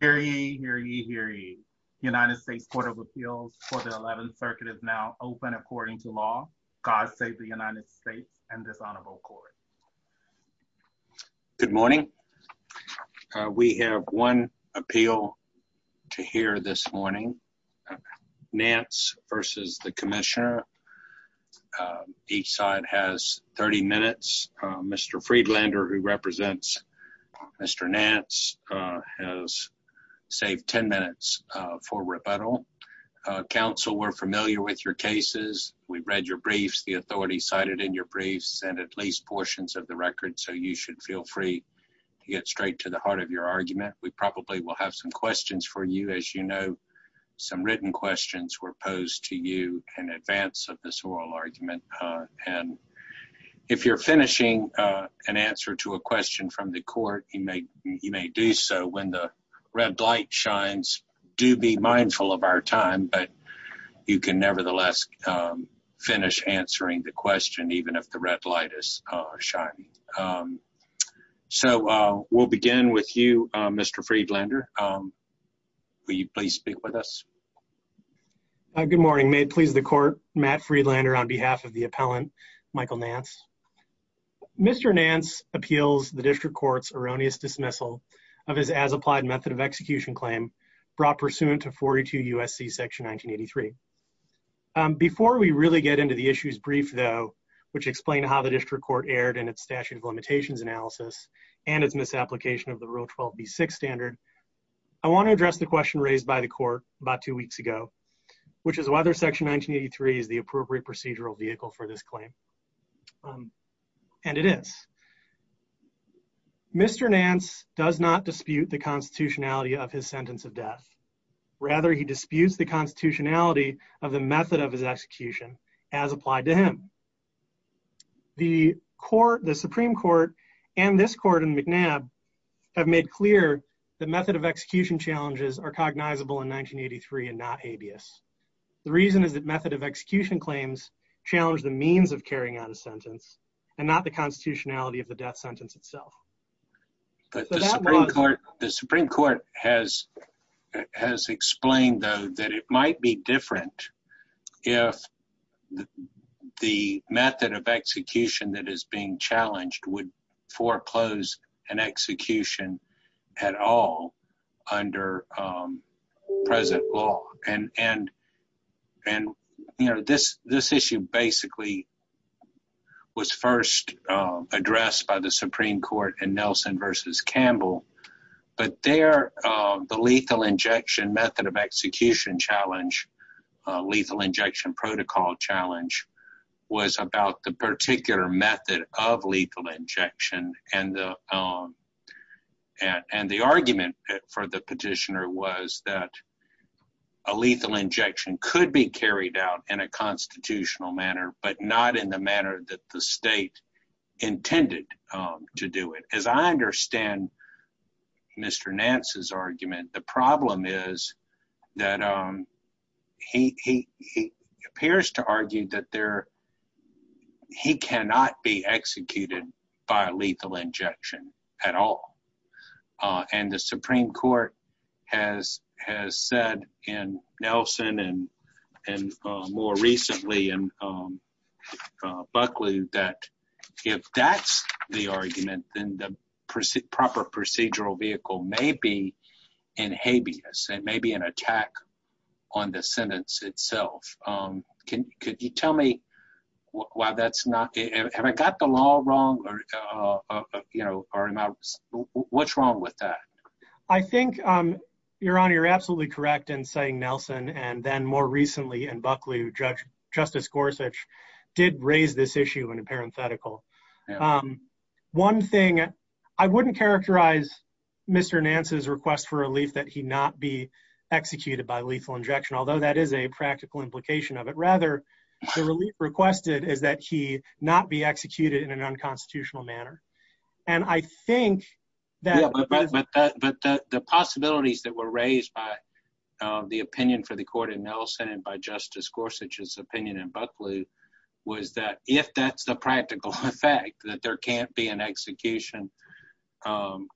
Hear ye, hear ye, hear ye. United States Court of Appeals for the 11th Circuit is now open according to law. God save the United States and this honorable court. Good morning. We have one appeal to hear this morning. Nance versus the Commissioner. Each side has 30 minutes. Mr. Friedlander, who represents Mr. Nance, has saved 10 minutes for rebuttal. Counsel, we're familiar with your cases. We've read your briefs, the authority cited in your briefs, and at least portions of the record, so you should feel free to get straight to the heart of your argument. We probably will have some questions for you. As you know, some written questions were posed to you in advance of this oral argument, and if you're finishing an answer to a question from the court, you may you may do so when the red light shines. Do be mindful of our time, but you can nevertheless finish answering the question even if the red light is shining. So we'll begin with you, Mr. Friedlander. Will you please speak with us? Good morning. May it please the court, Matt Friedlander on behalf of the District Court. Mr. Nance appeals the District Court's erroneous dismissal of his as-applied method of execution claim brought pursuant to 42 U.S.C. Section 1983. Before we really get into the issue's brief, though, which explained how the District Court erred in its statute of limitations analysis and its misapplication of the Rule 12b6 standard, I want to address the question raised by the court about two weeks ago, which is whether Section 1983 is the appropriate procedural vehicle for this claim. And it is. Mr. Nance does not dispute the constitutionality of his sentence of death. Rather, he disputes the constitutionality of the method of his execution as applied to him. The court, the Supreme Court, and this court in McNabb have made clear the method of execution challenges are cognizable in 1983 and not habeas. The reason is that the method of execution claims challenged the means of carrying out a sentence and not the constitutionality of the death sentence itself. The Supreme Court has explained, though, that it might be different if the method of execution that is being challenged would foreclose an execution at all under present law. This issue basically was first addressed by the Supreme Court in Nelson v. Campbell, but there the lethal injection method of execution challenge, lethal injection protocol challenge, was about the particular method of lethal injection, and the argument for the petitioner was that a lethal injection could be carried out in a constitutional manner, but not in the manner that the state intended to do it. As I understand Mr. Nance's argument, the problem is that he appears to argue that he cannot be charged with a lethal injection. The Supreme Court has said in Nelson and more recently in Buckley that if that's the argument, then the proper procedural vehicle may be in habeas, it may be an attack on the sentence itself. Could you tell me why that's not, have I got the law wrong or what's wrong with that? I think, Your Honor, you're absolutely correct in saying Nelson and then more recently in Buckley, Judge Justice Gorsuch did raise this issue in a parenthetical. One thing, I wouldn't characterize Mr. Nance's request for relief that he not be executed by lethal injection, although that is a practical implication of it. Rather, the relief requested is that he not be executed in an unconstitutional manner. And I think that the possibilities that were raised by the opinion for the court in Nelson and by Justice Gorsuch's opinion in Buckley was that if that's the practical effect, that there can't be an execution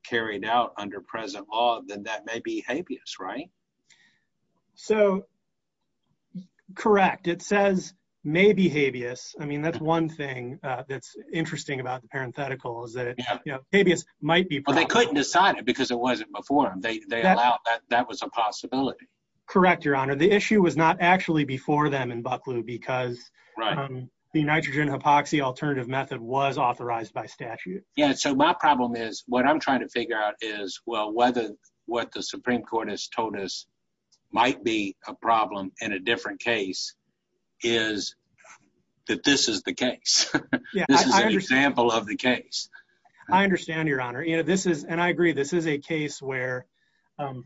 carried out under present law, then that may be in habeas. I mean, that's one thing that's interesting about the parenthetical is that, you know, habeas might be. Well, they couldn't decide it because it wasn't before, they allowed, that was a possibility. Correct, Your Honor. The issue was not actually before them in Buckley because the nitrogen hypoxia alternative method was authorized by statute. Yeah, so my problem is, what I'm trying to figure out is, well, whether what the Supreme Court has told us might be a problem in a different case is that this is the case. This is an example of the case. I understand, Your Honor. You know, this is and I agree this is a case where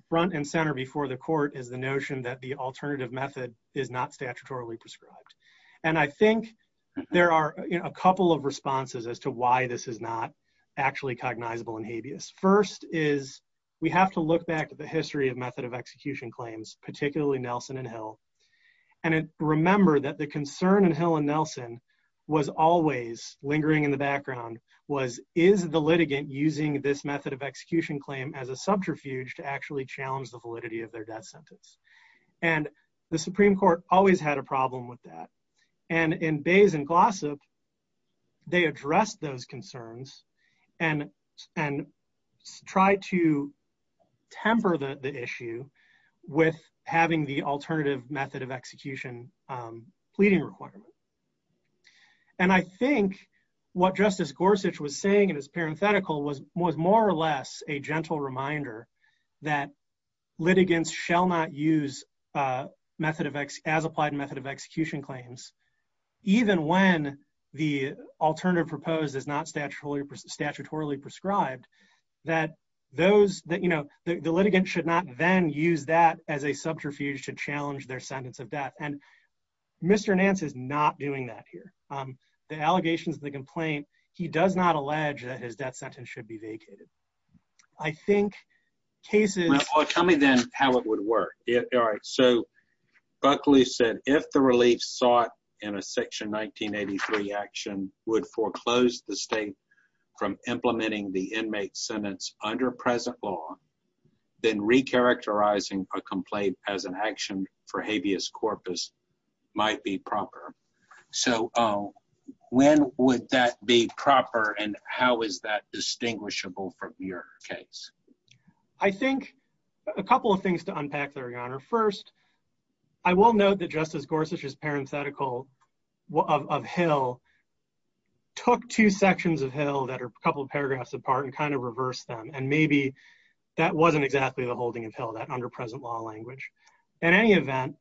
front and center before the court is the notion that the alternative method is not statutorily prescribed. And I think there are a couple of responses as to why this is not actually cognizable in habeas. First is we have to look back at the history of method of execution claims, particularly Nelson and Hill. And remember that the concern in Hill and Nelson was always lingering in the background was, is the litigant using this method of execution claim as a subterfuge to actually challenge the validity of their death sentence? And the Supreme Court always had a problem with that. And in Bayes and Glossop, they addressed those concerns and and tried to temper the issue with having the alternative method of execution pleading requirement. And I think what Justice Gorsuch was saying in his parenthetical was was more or less a gentle reminder that litigants shall not use method of as applied method of execution claims, even when the alternative proposed is not statutorily statutorily prescribed, that those that you know, the litigant should not then use that as a subterfuge to challenge their sentence of death. And Mr. Nance is not doing that here. The allegations of the complaint, he does not allege that his death sentence should be vacated. I All right. So Buckley said if the relief sought in a section 1983 action would foreclose the state from implementing the inmate sentence under present law, then recharacterizing a complaint as an action for habeas corpus might be proper. So when would that be proper? And how is that distinguishable from your case? I think a couple of things to unpack there, Your Honor. First, I will note that Justice Gorsuch's parenthetical of Hill took two sections of Hill that are a couple of paragraphs apart and kind of reverse them. And maybe that wasn't exactly the holding of Hill that underpresent law language. In any event,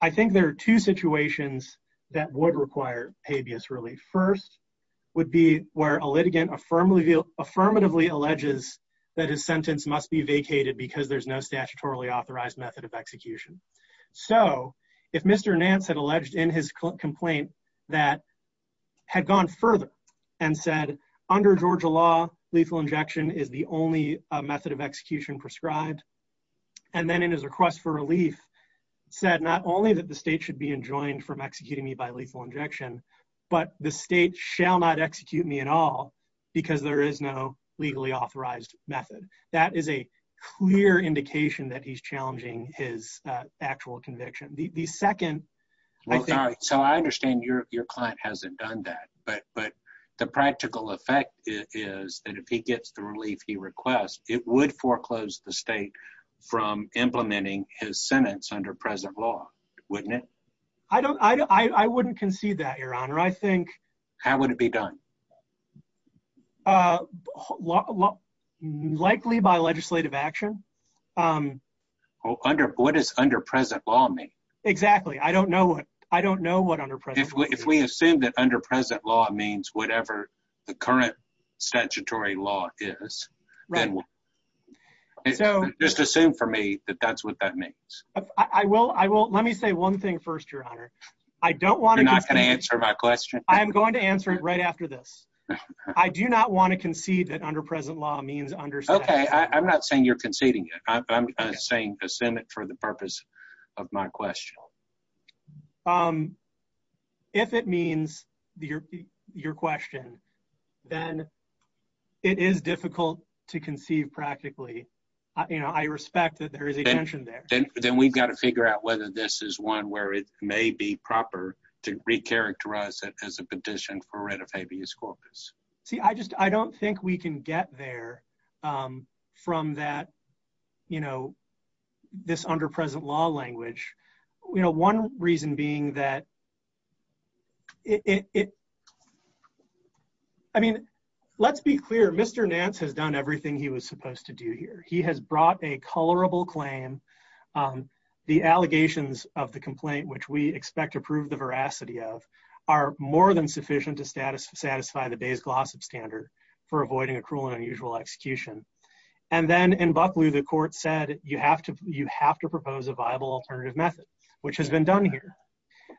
I think there are two situations that would require habeas relief. First would be where a litigant affirmatively alleges that his sentence must be vacated because there's no statutorily authorized method of execution. So if Mr. Nance had alleged in his complaint that had gone further and said, under Georgia law, lethal injection is the only method of execution prescribed, and then in his request for relief, said not only that the state should be enjoined from executing me by lethal injection, but the state shall not execute me at all, because there is no legally authorized method. That is a clear indication that he's challenging his actual conviction. The second... So I understand your client hasn't done that. But the practical effect is that if he gets the relief he requests, it would foreclose the state from I don't... I wouldn't concede that, Your Honor. I think... How would it be done? Likely by legislative action. Under... What does underpresent law mean? Exactly. I don't know what... I don't know what underpresent law means. If we assume that underpresent law means whatever the current statutory law is, then we'll... So... Just assume for me that that's what that means. I will. I will. Let me say one thing first, Your Honor. I don't want to... You're not going to answer my question? I am going to answer it right after this. I do not want to concede that underpresent law means under... Okay. I'm not saying you're conceding it. I'm saying assent it for the purpose of my question. If it means your question, then it is difficult to conceive practically. You know, I respect that there is a tension there. Then we've got to figure out whether this is one where it may be proper to recharacterize it as a petition for writ of habeas corpus. See, I just... I don't think we can get there from that, you know, this underpresent law language. You know, one reason being that it... I mean, let's be clear. Mr. Nance has done everything he was supposed to do here. He has brought a colorable claim. The allegations of the complaint, which we expect to prove the veracity of, are more than sufficient to satisfy the Bayes-Glossop standard for avoiding a cruel and unusual execution. And then in Bucklew, the court said, you have to propose a viable alternative method, which has been done here.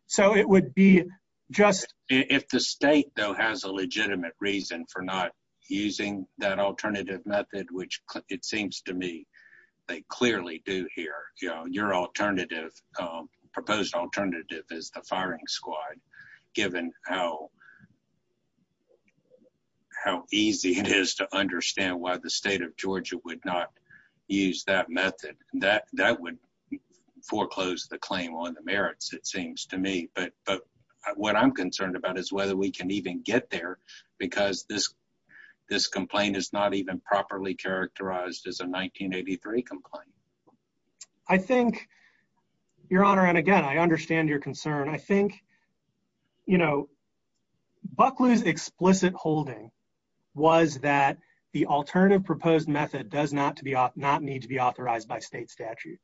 So it would be just... If the state, though, has a legitimate reason for not using that alternative method, which it seems to me they clearly do here. You know, your alternative, proposed alternative is the firing squad, given how easy it is to understand why the state of Georgia would not use that method. That would foreclose the claim on the merits, it seems to me. But what I'm concerned about is whether we can even get there, because this complaint is not even properly characterized as a 1983 complaint. I think... Your Honor, and again, I understand your concern. I think Bucklew's explicit holding was that the alternative proposed method does not need to be authorized by state statute.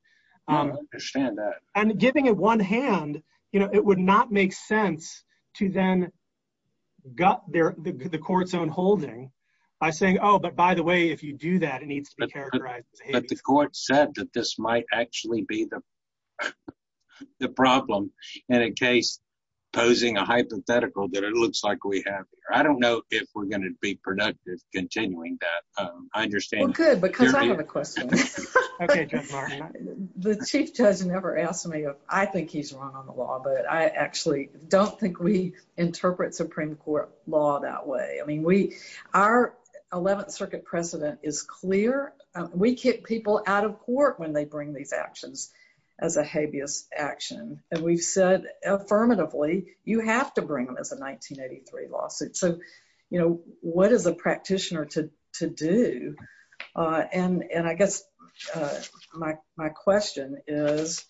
I understand that. And giving it one hand, it would not make sense to then gut the court's own holding by saying, oh, but by the way, if you do that, it needs to be characterized as a 1983 complaint. But the court said that this might actually be the problem in a case posing a hypothetical that it looks like we have here. I don't know if we're going to be productive continuing that. I understand... We could, because I have a question. Okay, Judge Larson. The Chief Judge never asked me if I think he's wrong on the law, but I actually don't think we interpret Supreme Court law that way. Our 11th Circuit precedent is clear. We kick people out of court when they bring these actions as a habeas action. And we've said affirmatively, you have to bring them as a 1983 lawsuit. So what is a practitioner to do? And I guess my question is,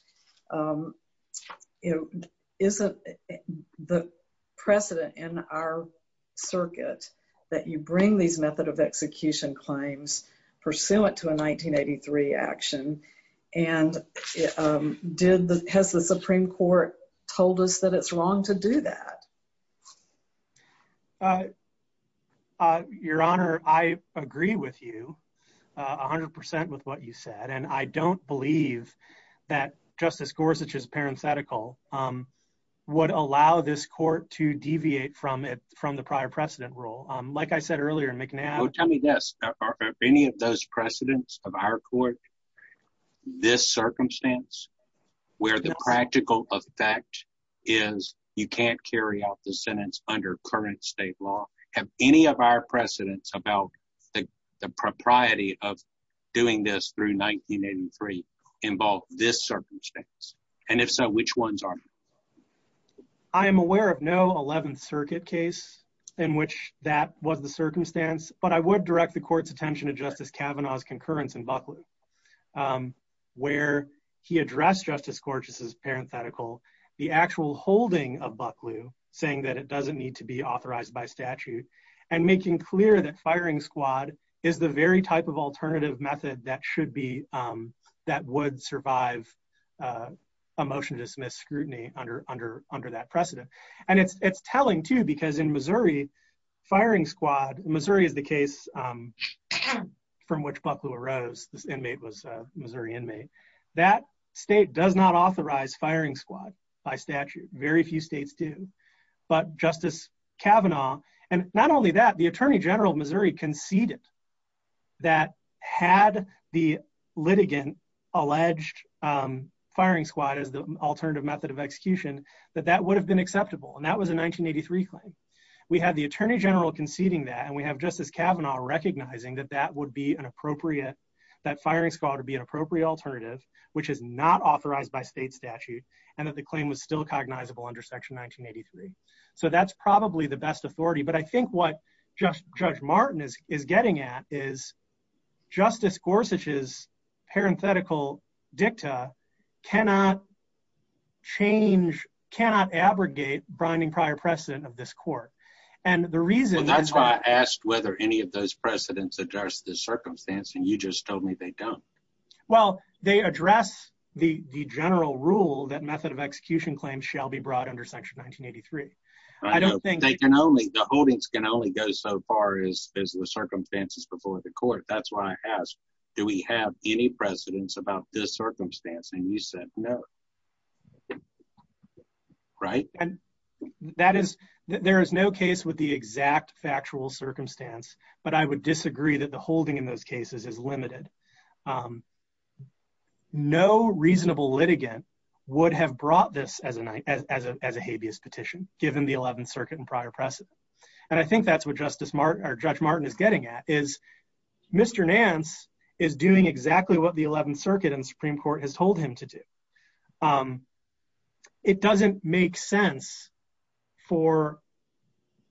isn't the precedent in our circuit that you bring these method of execution claims pursuant to a 1983 action? And has the Supreme Court told us that it's wrong to do that? Your Honor, I agree with you 100% with what you said. And I don't believe that Justice Gorsuch's parenthetical would allow this court to deviate from the prior precedent rule. Like I said earlier, McNabb... Well, tell me this. Are any of those precedents of our court, this circumstance, where the practical effect is you can't carry out the sentence under current state law? Have any of our precedents about the propriety of doing this through 1983 involved this circumstance? And if so, which ones are? I am aware of no 11th Circuit case in which that was the circumstance. But I would direct the court's attention to Justice Kavanaugh's concurrence in Bucklew, where he addressed Justice Gorsuch's parenthetical, the actual holding of Bucklew, saying that it doesn't need to be authorized by statute, and making clear that firing squad is the very type of alternative method that should be... That would survive a motion to dismiss scrutiny under that precedent. And it's telling, too, because in Missouri, firing squad... Missouri is the case from which Bucklew arose. This inmate was a Missouri inmate. That state does not authorize firing squad by statute. Very few states do. But Justice Kavanaugh... And not only that, the Attorney General of Missouri conceded that had the litigant alleged firing squad as the alternative method of execution, that that would have been acceptable. And that was a 1983 claim. We had the Attorney General conceding that, and we have Justice Kavanaugh recognizing that that would be an appropriate... That firing squad would be an appropriate alternative, which is not authorized by state statute, and that the claim was still cognizable under Section 1983. So that's probably the best authority. But I think what Judge Martin is getting at is Justice Gorsuch's parenthetical dicta cannot change... Cannot abrogate brining prior precedent of this court. And the reason... Well, that's why I asked whether any of those precedents address this circumstance, and you just told me they don't. Well, they address the general rule that method of execution claims shall be brought under Section 1983. I don't think... They can only... The holdings can only go so far as the circumstances before the court. That's why I asked, do we have any precedents about this circumstance? And you said no. Right? And that is... There is no case with the exact factual circumstance, but I would disagree that the holding in those cases is limited. No reasonable litigant would have brought this as a habeas petition, given the 11th Circuit and prior precedent. And I think that's what Judge Martin is getting at, is Mr. Nance is doing exactly what the 11th Circuit and Supreme Court has told him to do. It doesn't make sense for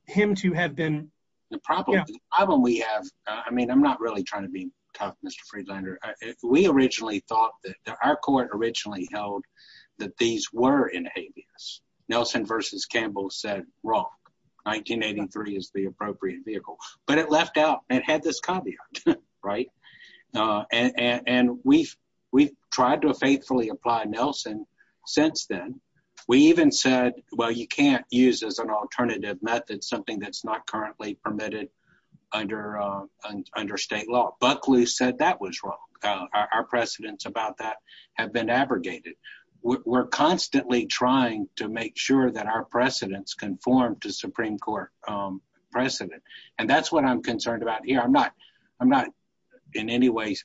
him to have been... The problem we have... I mean, I'm not really trying to be tough, Mr. Friedlander. We originally thought that our court originally held that these were in habeas. Nelson v. Campbell said, wrong. 1983 is the appropriate vehicle. But it left out... It had this caveat, right? And we've tried to faithfully apply Nelson since then. We even said, well, you can't use as an alternative method something that's not currently permitted under state law. Buckley said that was wrong. Our precedents about that have been abrogated. We're constantly trying to make sure that our precedents conform to Supreme Court precedent. And that's what I'm concerned about here. I'm not in any way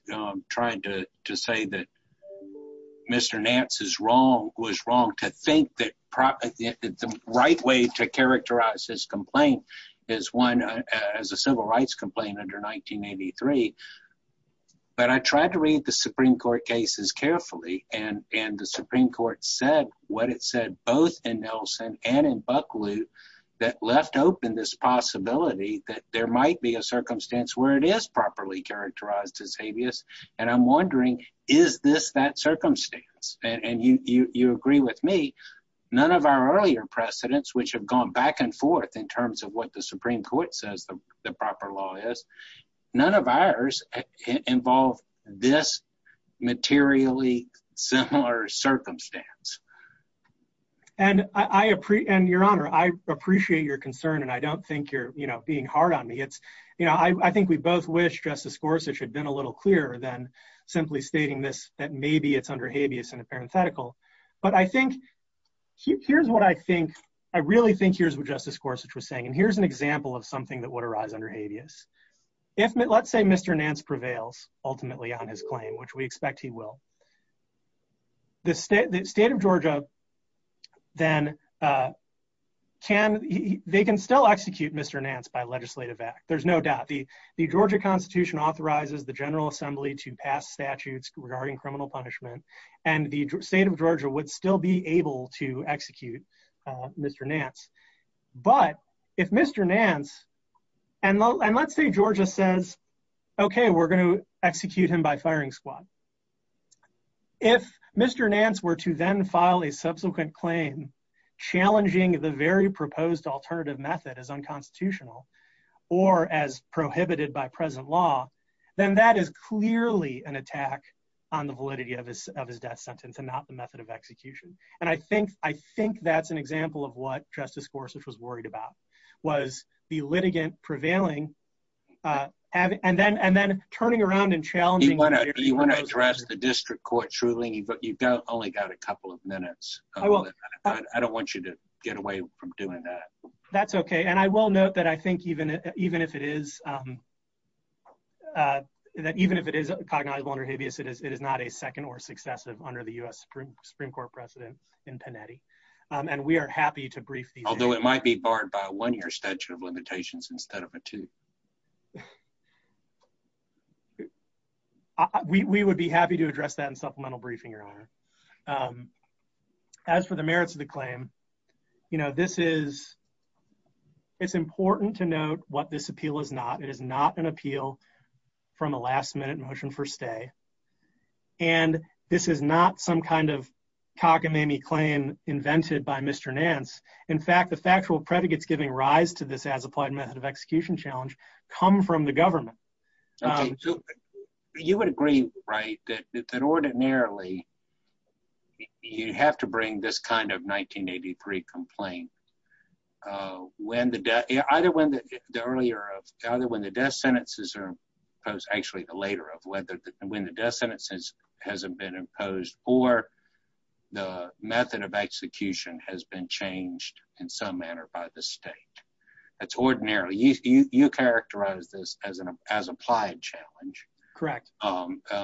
trying to say that Mr. Nance was wrong to think that the right way to characterize his complaint is one as a civil rights complaint under 1983. But I tried to read the Supreme Court cases carefully, and the Supreme Court said what it said both in Nelson and in Buckley that left open this possibility that there might be a circumstance where it is properly characterized as habeas. And I'm wondering, is this that circumstance? And you agree with me. None of our earlier precedents, which have gone back and forth in terms of what the Supreme Court says the proper law is, none of ours involve this materially similar circumstance. And your honor, I appreciate your concern, and I don't think you're being hard on me. I think we both wish Justice Gorsuch had been a little clearer than simply stating this, that maybe it's under habeas in a parenthetical. But I think, here's what I think, I really think here's what Justice Gorsuch was saying, and here's an example of something that would arise under habeas. If, let's say, Mr. Nance prevails ultimately on his claim, which we expect he will, the state of Georgia then can, they can still execute Mr. Nance by legislative act. There's no doubt. The Georgia Constitution authorizes the General Assembly to pass statutes regarding criminal punishment, and the state of Georgia would still be able to execute Mr. Nance. But if Mr. Nance, and let's say Georgia says, okay, we're going to execute him by firing squad. If Mr. Nance were to then file a subsequent claim challenging the very proposed alternative method as unconstitutional, or as prohibited by present law, then that is execution. And I think that's an example of what Justice Gorsuch was worried about, was the litigant prevailing, and then turning around and challenging. You want to address the district court truly, but you've only got a couple of minutes. I don't want you to get away from doing that. That's okay, and I will note that I think even if it is cognizable under habeas, it is not a Supreme Court precedent in Panetti. And we are happy to brief. Although it might be barred by a one-year statute of limitations instead of a two. We would be happy to address that in supplemental briefing, Your Honor. As for the merits of the claim, you know, this is, it's important to note what this appeal is not. It is not an appeal from a last-minute motion for stay, and this is not some kind of cockamamie claim invented by Mr. Nance. In fact, the factual predicates giving rise to this as-applied method of execution challenge come from the government. You would agree, right, that ordinarily you have to bring this kind of 1983 complaint when the death, either when the earlier, either when the death sentences are imposed, actually the later of whether when the death sentences hasn't been imposed, or the method of execution has been changed in some manner by the state. That's ordinary. You characterize this as an as-applied challenge. Correct.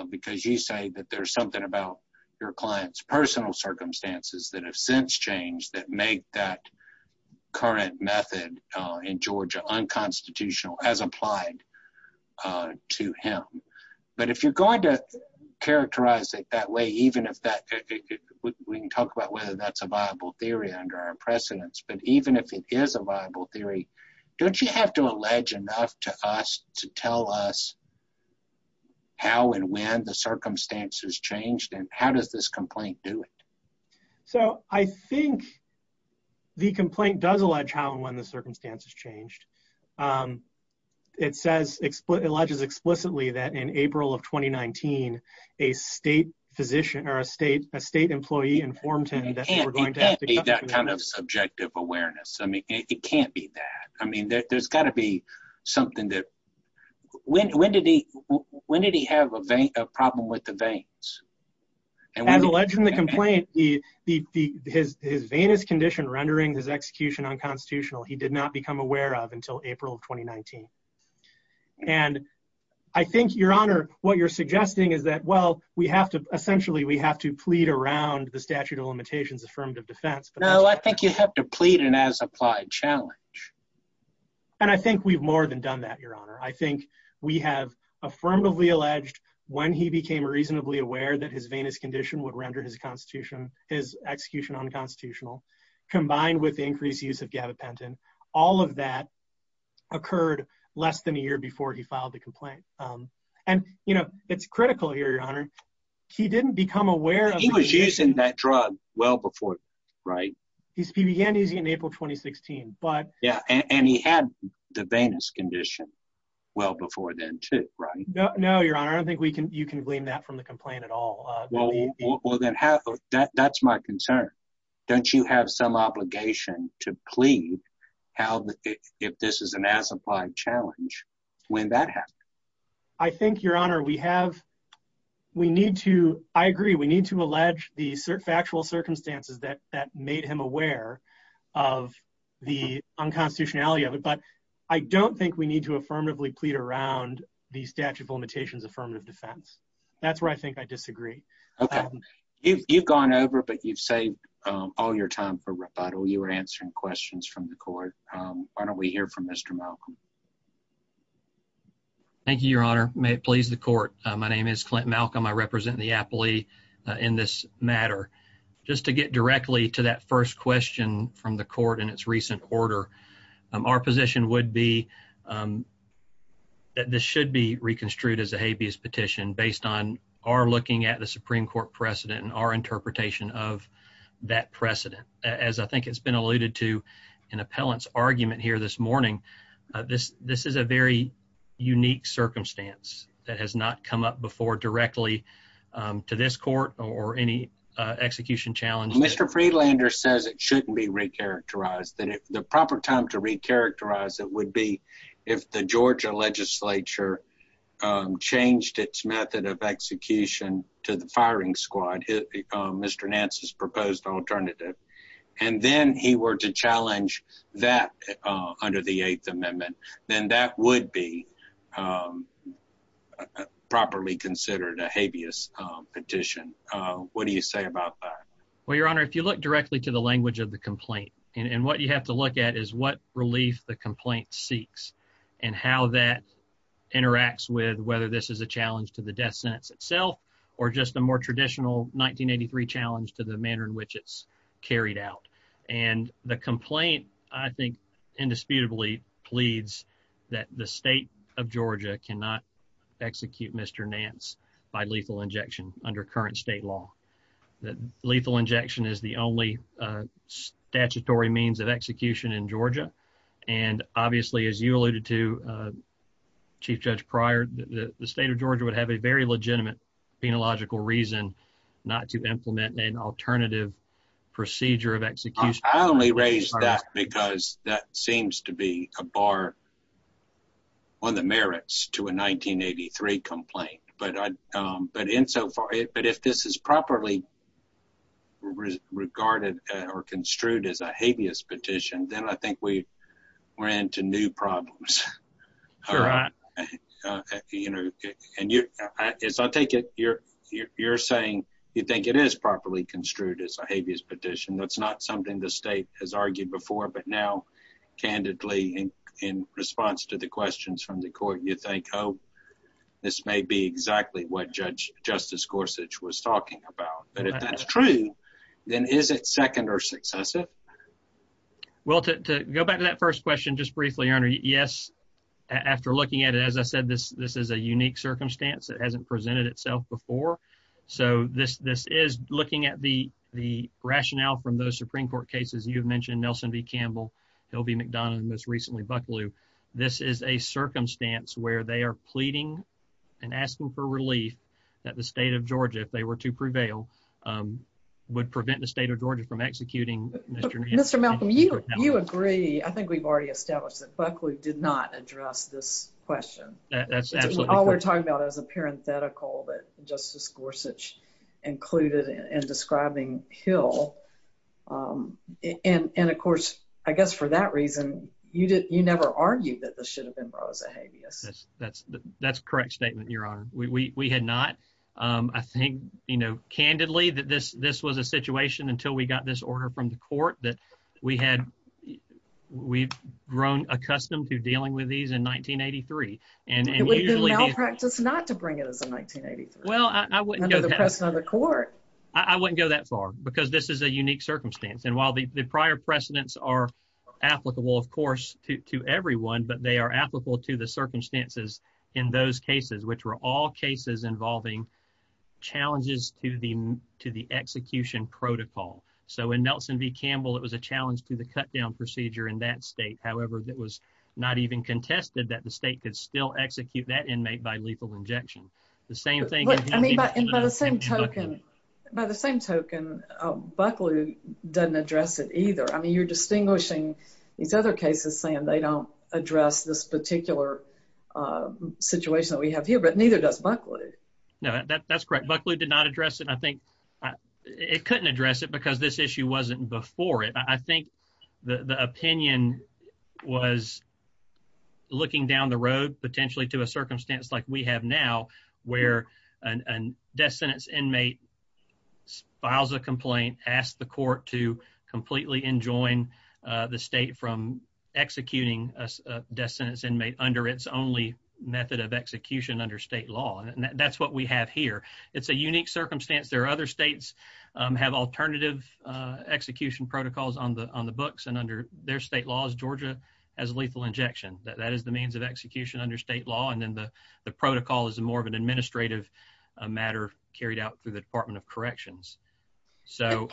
Because you say that there's something about your client's personal circumstances that have since changed that make that current method in Georgia unconstitutional as applied to him. But if you're going to characterize it that way, even if that, we can talk about whether that's a viable theory under our precedents, but even if it is a viable theory, don't you have to allege enough to us to tell us how and when the circumstances changed, and how does this complaint do it? So, I think the complaint does allege how and when the circumstances changed. It says, it alleges explicitly that in April of 2019, a state physician, or a state, a state employee informed him that we're going to have to be that kind of subjective awareness. I mean, it can't be that. I mean, there's got to be something that, when did he, when did he have a vein, a problem with the veins? As alleged in the complaint, his veinous condition rendering his execution unconstitutional, he did not become aware of until April of 2019. And I think, your honor, what you're suggesting is that, well, we have to, essentially, we have to plead around the statute of limitations affirmative defense. No, I think you have to plead an as-applied challenge. And I think we've more than done that, your honor. I think we have affirmatively alleged when he became reasonably aware that his veinous condition would render his constitution, his execution unconstitutional, combined with the increased use of gabapentin. All of that occurred less than a year before he filed the complaint. And, you know, it's critical here, your honor. He didn't become aware of- He was using that drug well before, right? He began using it in April 2016, but- Yeah, and he had the veinous condition well before then, too, right? No, your honor. I don't think you can glean that from the complaint at all. Well, then, that's my concern. Don't you have some obligation to plead if this is an as-applied challenge when that happened? I think, your honor, we have, we need to, I agree, we need to allege the factual circumstances that made him aware of the unconstitutionality of it. I don't think we need to affirmatively plead around the statute of limitations affirmative defense. That's where I think I disagree. Okay. You've gone over, but you've saved all your time for rebuttal. You were answering questions from the court. Why don't we hear from Mr. Malcolm? Thank you, your honor. May it please the court. My name is Clint Malcolm. I represent the appellee in this matter. Just to get directly to that first question from the court in its recent order, our position would be that this should be reconstrued as a habeas petition based on our looking at the Supreme Court precedent and our interpretation of that precedent. As I think it's been alluded to in appellant's argument here this morning, this is a very unique circumstance that has not come up before directly to this shouldn't be recharacterized. The proper time to recharacterize it would be if the Georgia legislature changed its method of execution to the firing squad, Mr. Nance's proposed alternative, and then he were to challenge that under the 8th amendment, then that would be properly considered a habeas petition. What do you say about that? Well, your honor, if you look directly to the language of the complaint and what you have to look at is what relief the complaint seeks and how that interacts with whether this is a challenge to the death sentence itself or just a more traditional 1983 challenge to the manner in which it's carried out. And the complaint I think indisputably pleads that the state of Georgia cannot execute Mr. Nance by lethal injection under current state law. Lethal injection is the only statutory means of execution in Georgia. And obviously, as you alluded to, Chief Judge Pryor, the state of Georgia would have a very legitimate penological reason not to implement an alternative procedure of execution. I only raised that because that seems to be a bar on the merits to a 1983 complaint. But if this is properly regarded or construed as a habeas petition, then I think we're into new problems. You're saying you think it is properly construed as a habeas petition. That's not something the state has argued before, but now candidly, in response to the questions from the court, you think, oh, this may be exactly what Judge Justice Gorsuch was talking about. But if that's true, then is it second or successive? Well, to go back to that first question, just briefly, Your Honor, yes. After looking at it, as I said, this is a unique circumstance that hasn't presented itself before. So this is looking at the rationale from those Supreme Court cases. You've mentioned Nelson v. Campbell, Hill v. McDonough, and most recently Bucklew. This is a circumstance where they are pleading and asking for relief that the state of Georgia, if they were to prevail, would prevent the state of Georgia from executing Mr. Nelson. Mr. Malcolm, you agree. I think we've already established that Bucklew did not address this question. That's absolutely true. All we're talking about is a parenthetical that Justice Gorsuch included in describing Hill. And, of course, for that reason, you never argued that this should have been brought as a habeas. That's a correct statement, Your Honor. We had not. I think, candidly, that this was a situation until we got this order from the court that we've grown accustomed to dealing with these in 1983. It would have been malpractice not to bring it as a 1983. Well, I wouldn't go that far. Under the precedent of the court. I wouldn't go that far because this is a unique circumstance. And while the prior precedents are applicable, of course, to everyone, but they are applicable to the circumstances in those cases, which were all cases involving challenges to the execution protocol. So in Nelson v. Campbell, it was a challenge to the cut down procedure in that state. However, it was not even contested that the state could still execute that inmate by lethal injection. The same thing. By the same token, Bucklew doesn't address it either. I mean, you're distinguishing these other cases saying they don't address this particular situation that we have here, but neither does Bucklew. No, that's correct. Bucklew did not address it. I think it couldn't address it because this issue wasn't before it. I think the opinion was looking down the road, potentially to a circumstance like we have now, where a death sentence inmate files a complaint, asks the court to completely enjoin the state from executing a death sentence inmate under its only method of execution under state law. And that's what we have here. It's a unique circumstance. There are other states have alternative execution protocols on the books and under their state laws. Georgia has lethal injection. That is the means of execution under state law. And then the protocol is more of an administrative matter carried out through the Department of Corrections. So,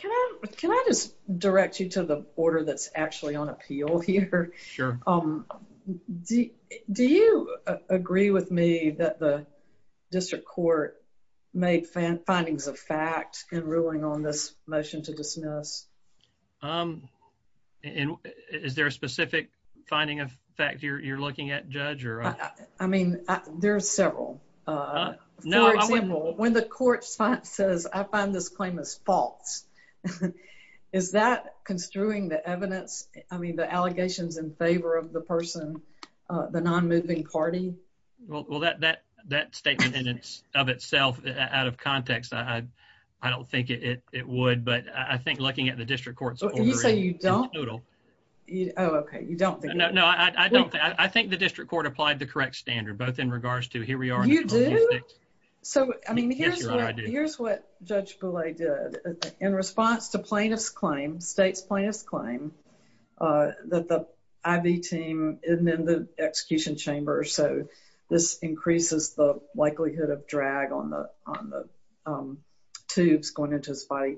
can I just direct you to the order that's actually on appeal here? Sure. Do you agree with me that the district court made findings of fact in ruling on this motion to dismiss? Is there a specific finding of fact you're looking at, Judge? I mean, there's several. For example, when the court says, I find this claim is false, is that construing the evidence? I mean, the allegations in favor of the person, the non-moving party? Well, that statement in and of itself, out of context, I don't think it would. But I think looking at the district court's order... You say you don't? Oh, okay. You don't think... No, I don't. I think the district court applied the correct standard, both in regards to here we are... You do? So, I mean, here's what Judge Boulay did. In response to plaintiff's claim, state's plaintiff's claim, that the IV team is in the execution chamber. So, this increases the likelihood of drag on the tubes going into his body.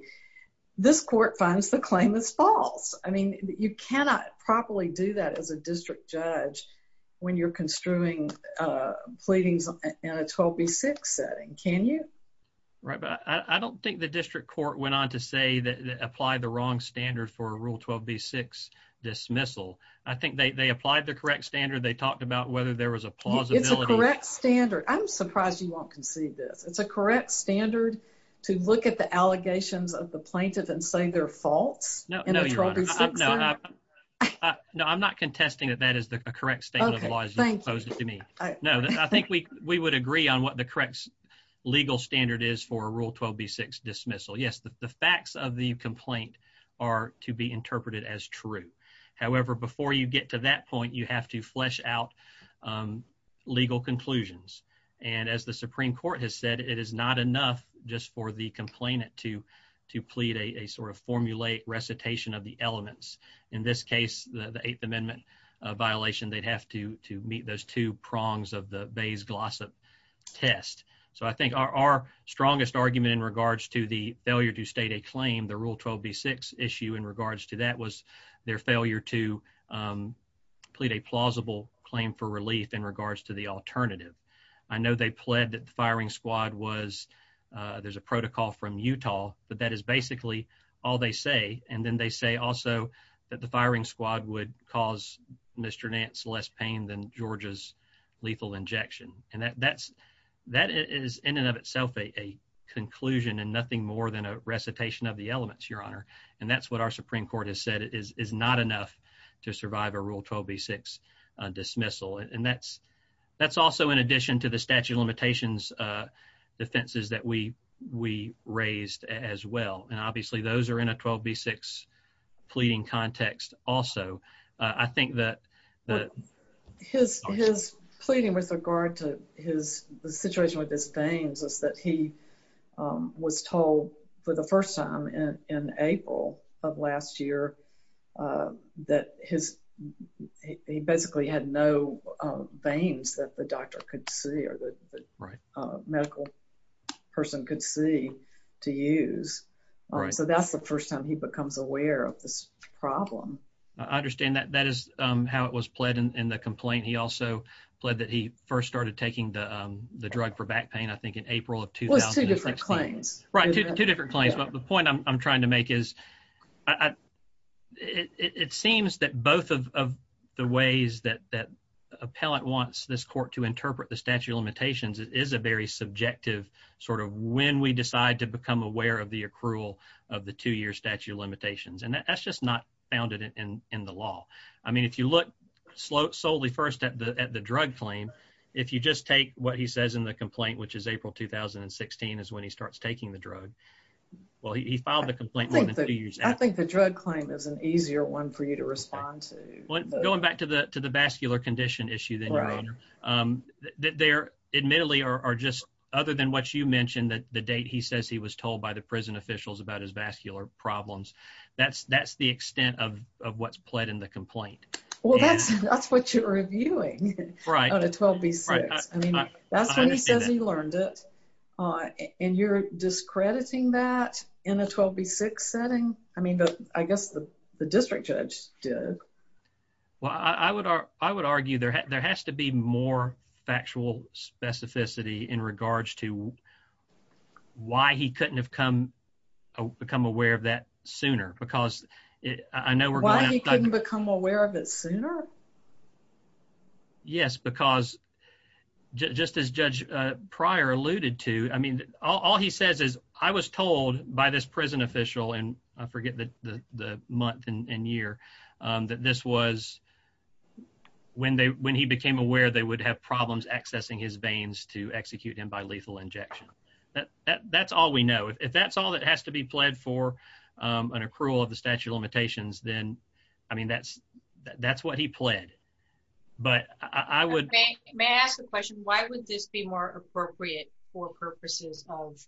This court finds the claim is false. I mean, you cannot properly do that as a district judge when you're construing pleadings in a 12B6 setting, can you? Right. But I don't think the district court went on to say that they applied the wrong standard for a Rule 12B6 dismissal. I think they applied the correct standard. They talked about whether there was a plausibility... It's a correct standard. I'm surprised you won't concede this. It's a correct standard to look at the allegations of the No, I'm not contesting that that is the correct statement of the law as you posed it to me. No, I think we would agree on what the correct legal standard is for a Rule 12B6 dismissal. Yes, the facts of the complaint are to be interpreted as true. However, before you get to that point, you have to flesh out legal conclusions. And as the Supreme Court has said, it is not enough just for the complainant to plead a sort of formulaic recitation of the elements. In this case, the Eighth Amendment violation, they'd have to meet those two prongs of the Bayes-Glossop test. So I think our strongest argument in regards to the failure to state a claim, the Rule 12B6 issue in regards to that was their failure to plead a plausible claim for relief in the alternative. I know they pled that the firing squad was... There's a protocol from Utah, but that is basically all they say. And then they say also that the firing squad would cause Mr. Nance less pain than Georgia's lethal injection. And that is in and of itself a conclusion and nothing more than a recitation of the elements, Your Honor. And that's what our also in addition to the statute of limitations defenses that we raised as well. And obviously, those are in a 12B6 pleading context also. I think that... His pleading with regard to the situation with his veins is that he was told for the first time in April of last year that he basically had no veins that the doctor could see or the medical person could see to use. So that's the first time he becomes aware of this problem. I understand that. That is how it was pled in the complaint. He also pled that he first started taking the drug for back pain, I think in April of 2016. Right. Two different claims. But the point I'm trying to make is it seems that both of the ways that appellant wants this court to interpret the statute of limitations is a very subjective sort of when we decide to become aware of the accrual of the two-year statute of limitations. And that's just not founded in the law. I mean, if you look solely first at the drug claim, if you just take what he says in the complaint, which is April 2016 is when he starts taking the drug. Well, he filed the complaint more than two years after. I think the drug claim is an easier one for you to respond to. Going back to the vascular condition issue then, Your Honor, there admittedly are just, other than what you mentioned, that the date he says he was told by the prison officials about his vascular problems, that's the extent of what's pled in the complaint. Well, that's what you're discrediting. That's when he says he learned it. And you're discrediting that in a 12B6 setting? I mean, I guess the district judge did. Well, I would argue there has to be more factual specificity in regards to why he couldn't have become aware of that sooner. Yes, because just as Judge Pryor alluded to, I mean, all he says is, I was told by this prison official, and I forget the month and year, that this was when he became aware they would have problems accessing his veins to execute him by lethal injection. That's all we know. If that's all that has to be pled for an accrual of the statute of I mean, that's what he pled. But I would... May I ask a question? Why would this be more appropriate for purposes of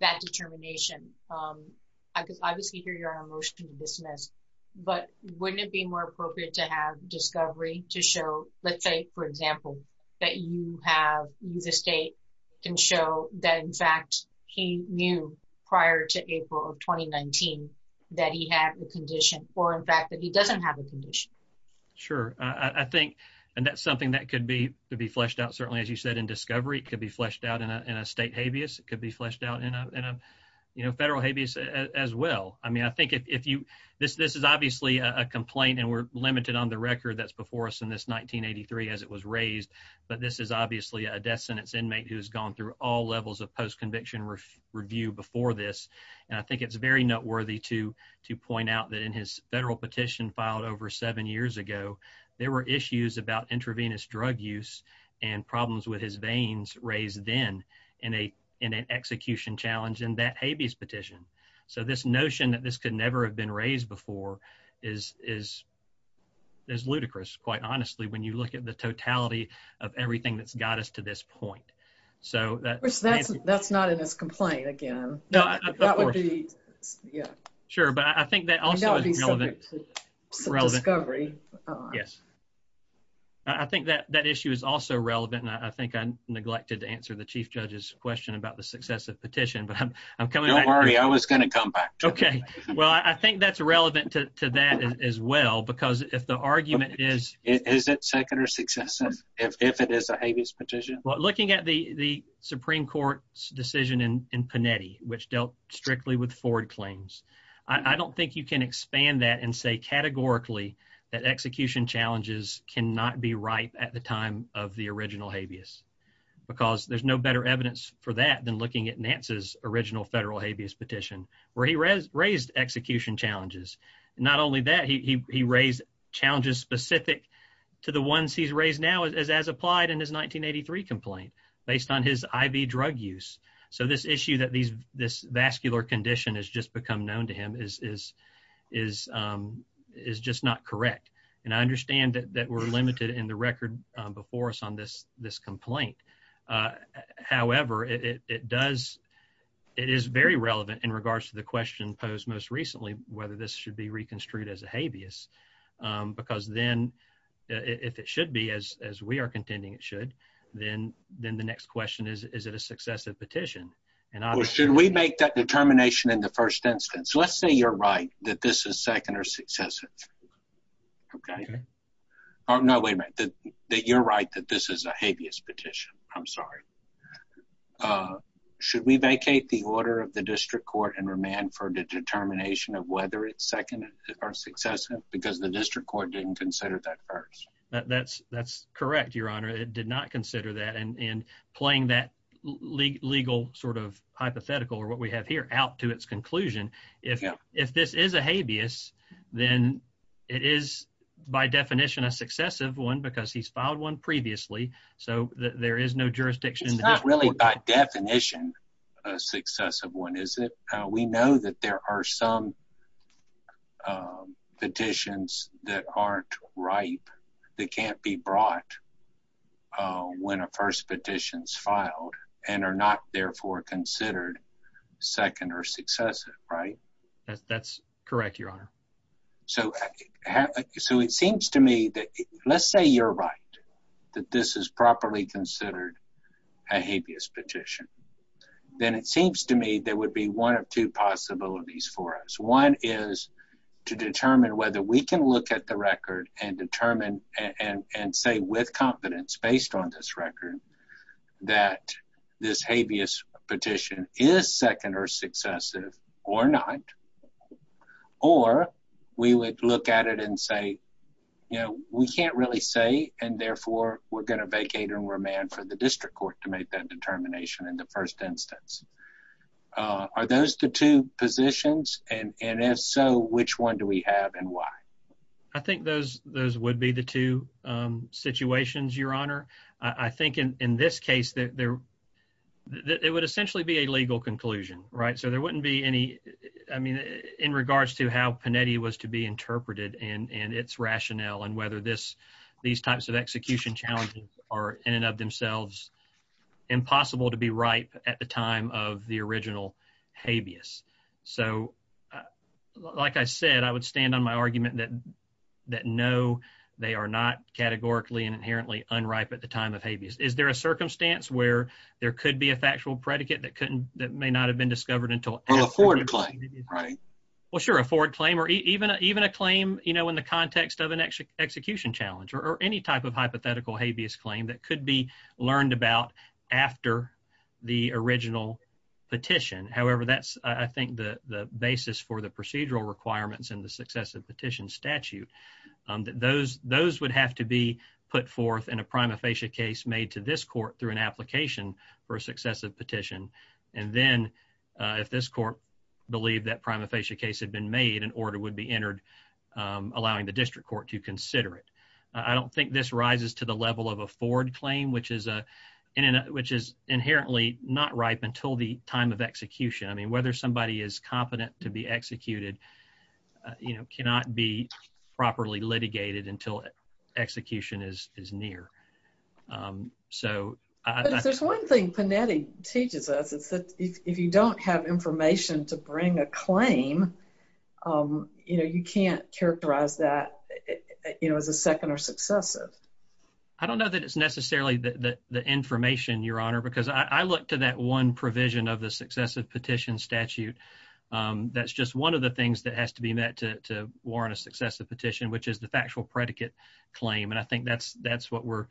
that determination? I could obviously hear your motion to dismiss, but wouldn't it be more appropriate to have discovery to show, let's say, for example, that you have, the state can show that, in fact, he knew prior to April of 2019 that he had a condition, or in fact, that he doesn't have a condition? Sure. I think that's something that could be fleshed out. Certainly, as you said, in discovery, it could be fleshed out in a state habeas. It could be fleshed out in a federal habeas as well. I mean, I think if you... This is obviously a complaint, and we're limited on the record that's before us in this 1983 as it was raised, but this is obviously a death sentence inmate who's gone through all levels of post-conviction review before this. And I think it's very noteworthy to point out that in his federal petition filed over seven years ago, there were issues about intravenous drug use and problems with his veins raised then in an execution challenge in that habeas petition. So this notion that this could never have been raised before is ludicrous, quite honestly, when you look at the totality of everything that's got us to this point. So that's not in this complaint, again. Sure, but I think that also is relevant. I think that issue is also relevant, and I think I neglected to answer the chief judge's question about the successive petition, but I'm coming back. Don't worry, I was going to come back. Okay. Well, I think that's relevant to that as well, because if the argument is... Is it second or successive if it is a habeas petition? Well, looking at the Supreme Court's decision in Panetti, which dealt strictly with Ford claims, I don't think you can expand that and say categorically that execution challenges cannot be ripe at the time of the original habeas, because there's no better evidence for that than looking at Nance's original federal habeas petition, where he raised execution challenges. Not only that, he raised challenges specific to the ones he's raised now as applied in his 1983 complaint, based on his IV drug use. So this issue that this vascular condition has just become known to him is just not correct. And I understand that we're limited in the record before us on this complaint. However, it is very relevant in regards to the question posed most recently, whether this should be reconstituted as a habeas. Because then, if it should be, as we are contending it should, then the next question is, is it a successive petition? And should we make that determination in the first instance? Let's say you're right, that this is second or successive. Okay. Oh, no, wait a minute, that you're right, that this is a habeas petition. I'm sorry. Okay. Should we vacate the order of the district court and remand for the determination of whether it's second or successive? Because the district court didn't consider that first. That's correct, Your Honor, it did not consider that. And playing that legal sort of hypothetical, or what we have here, out to its conclusion, if this is a habeas, then it is by definition a successive one, because he's filed one previously. So there is no jurisdiction. It's not really by definition a successive one, is it? We know that there are some petitions that aren't ripe, that can't be brought when a first petition is filed, and are not therefore considered second or successive, right? That's correct, Your Honor. So it seems to me that, let's say you're right, that this is properly considered a habeas petition, then it seems to me there would be one of two possibilities for us. One is to determine whether we can look at the record and determine, and say with confidence based on this record, that this habeas petition is second or successive or not. Or we would look at it and say, you know, we can't really say, and therefore we're going to vacate and remand for the district court to make that determination in the first instance. Are those the two positions? And if so, which one do we have and why? I think those would be the two situations, Your Honor. I think in this case, it would essentially be a legal conclusion, right? So there wouldn't be any, I mean, in regards to how Panetti was to be interpreted and its rationale, and whether these types of execution challenges are in and of themselves impossible to be ripe at the time of the original habeas. So like I said, I would stand on my argument that no, they are not categorically and inherently unripe at the time of habeas. Is there a circumstance where there could be a factual predicate that couldn't, that may not have been discovered until... Or a forward claim, right? Well, sure, a forward claim or even a claim, you know, in the context of an execution challenge or any type of hypothetical habeas claim that could be learned about after the original petition. However, that's, I think, the basis for the procedural requirements in the successive petition statute, that those would have to be put forth in a prima facie case made to this petition. And then if this court believed that prima facie case had been made, an order would be entered, allowing the district court to consider it. I don't think this rises to the level of a forward claim, which is inherently not ripe until the time of execution. I mean, whether somebody is competent to be executed, you know, cannot be properly litigated until execution is near. But if there's one thing Panetti teaches us, it's that if you don't have information to bring a claim, you know, you can't characterize that, you know, as a second or successive. I don't know that it's necessarily the information, Your Honor, because I look to that one provision of the successive petition statute. That's just one of the things that has to be met to warrant a successive petition, which is the factual predicate claim. And I think that's what we're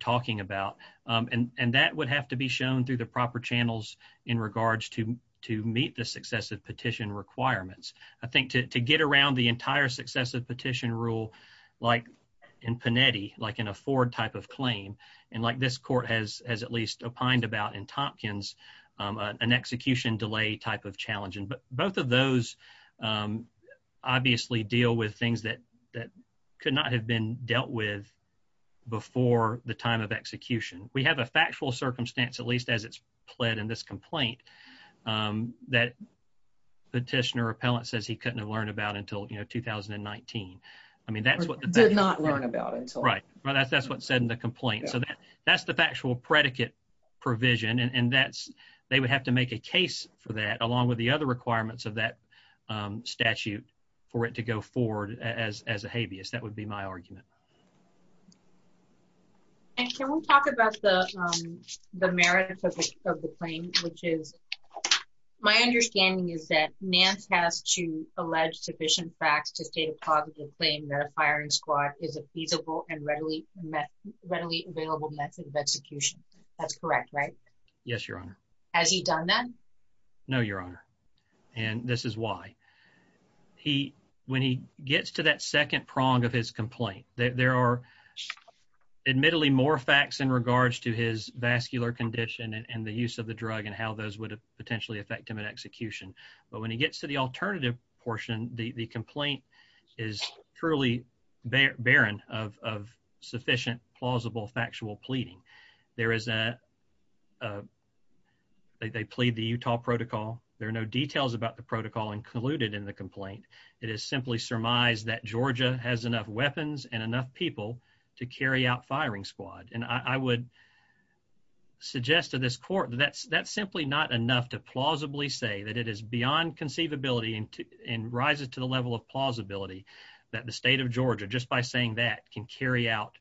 talking about. And that would have to be shown through the proper channels in regards to meet the successive petition requirements. I think to get around the entire successive petition rule, like in Panetti, like an afford type of claim, and like this court has at least opined about in Tompkins, an execution delay type of challenge. Both of those obviously deal with things that could not have been dealt with before the time of execution. We have a factual circumstance, at least as it's pled in this complaint, that petitioner or appellant says he couldn't have learned about until, you know, 2019. I mean, that's what... Did not learn about until... Right. That's what's said in the complaint. So that's the factual predicate provision. They would have to make a case for that along with the other requirements of that statute for it to go forward as a habeas. That would be my argument. And can we talk about the merits of the claim, which is... My understanding is that Nance has to allege sufficient facts to state a positive claim that a firing squad is a feasible and readily available method of execution. That's correct, right? Yes, Your Honor. Has he done that? No, Your Honor. And this is why. When he gets to that second prong of his complaint, there are admittedly more facts in regards to his vascular condition and the use of the drug and how those would potentially affect him at execution. But when he gets to the alternative portion, the complaint is truly barren of sufficient, plausible, factual pleading. There is a... They plead the Utah protocol. There are no details about the protocol included in the complaint. It is simply surmised that Georgia has enough weapons and enough people to carry out firing squad. And I would suggest to this court that that's simply not enough to plausibly say that it is beyond conceivability and rises to the level of plausibility that the state of Georgia, just by saying that, can carry out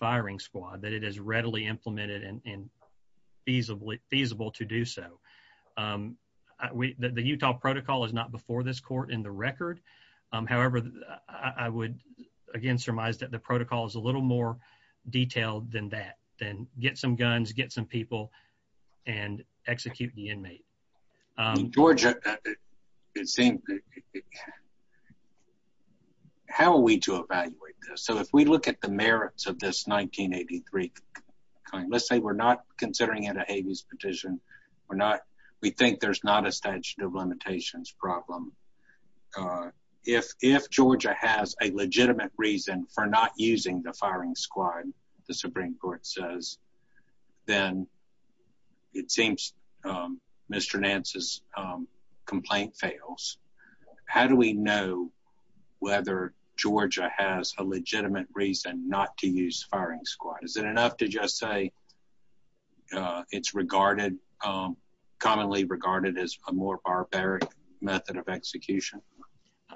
firing squad. That it is readily implemented and feasible to do so. The Utah protocol is not before this court in the record. However, I would again surmise that the protocol is a little more detailed than that, than get some guns, get some people, and execute the inmate. Georgia, it seems... How are we to evaluate this? So, if we look at the merits of this 1983 complaint, let's say we're not considering it a habeas petition. We think there's not a statute of limitations problem. If Georgia has a legitimate reason for not using the firing squad, the Supreme Court says, then it seems Mr. Nance's complaint fails. How do we know whether Georgia has a legitimate reason not to use firing squad? Is it enough to just say it's regarded, commonly regarded as a more barbaric method of execution?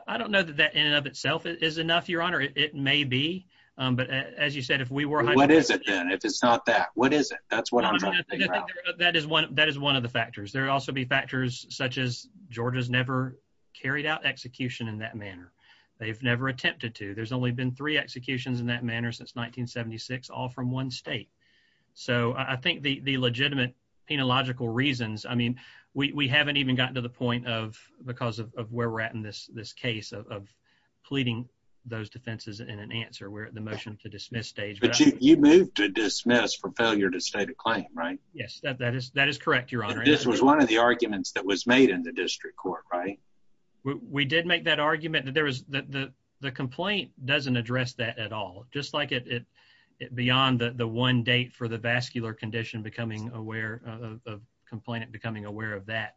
I don't know that that in and of itself is enough, Your Honor. It may be. But as you said, if we were... What is it then? If it's not that, what is it? That's what I'm trying to figure out. That is one of the factors. There would also be factors such as Georgia's never carried out execution in that manner. They've never attempted to. There's only been three executions in that manner since 1976, all from one state. So, I think the legitimate penological reasons, I mean, we haven't even gotten to the point because of where we're at in this case of pleading those defenses in an answer. We're at the motion to dismiss stage. You moved to dismiss for failure to state a claim, right? Yes, that is correct, Your Honor. This was one of the arguments that was made in the district court, right? We did make that argument that the complaint doesn't address that at all, just like it beyond the one date for the vascular condition, becoming aware of complainant, becoming aware of that.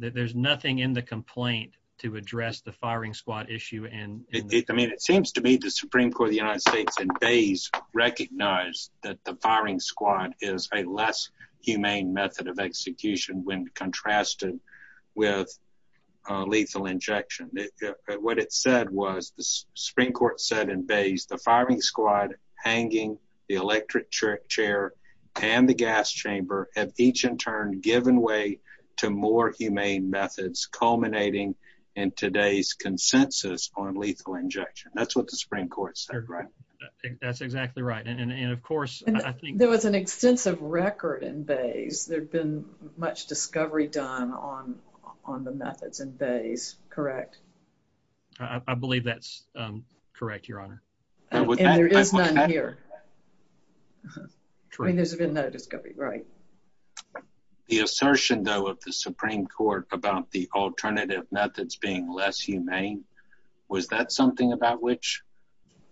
There's nothing in the complaint to address the firing squad issue. I mean, it seems to me the Supreme Court of the United States and Bays recognized that the firing squad is a less humane method of execution when contrasted with lethal injection. What it said was, the Supreme Court said in Bays, the firing squad hanging the electric chair and the gas chamber have each in turn given way to more humane methods culminating in today's consensus on lethal injection. That's what the Supreme Court said, right? That's exactly right. And of course, I think... There was an extensive record in Bays. There'd been much discovery done on the methods in Bays, correct? I believe that's correct, Your Honor. And there is none here. I mean, there's been no discovery, right? The assertion, though, of the Supreme Court about the alternative methods being less humane, was that something about which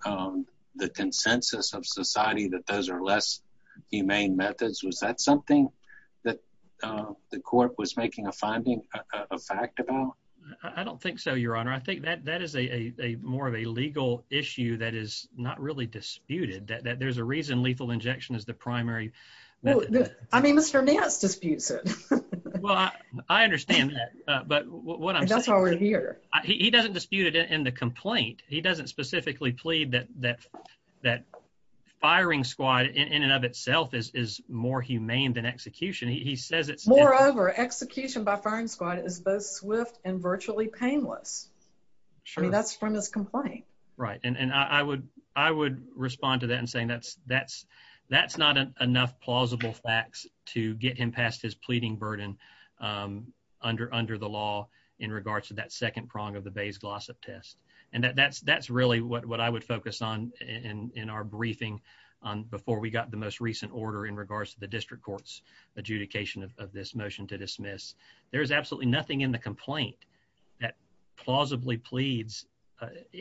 the consensus of society that those are less humane methods? Was that something that the court was making a finding, a fact about? I don't think so, Your Honor. I think that that is a more of a legal issue that is not really disputed, that there's a reason lethal injection is the primary. Well, I mean, Mr. Nance disputes it. Well, I understand that, but what I'm saying... That's already here. He doesn't dispute it in the complaint. He doesn't specifically plead that firing squad in and of itself is more humane than execution. He says it's... Moreover, execution by firing squad is both swift and virtually painless. Sure. I mean, that's from his complaint. Right. And I would respond to that in saying that's not enough plausible facts to get him past his pleading burden under the law in regards to that second prong of the Bay's Glossop test. And that's really what I would focus on in our briefing before we got the most recent order in regards to the district court's adjudication of this motion to dismiss. There is absolutely nothing in the complaint that plausibly pleads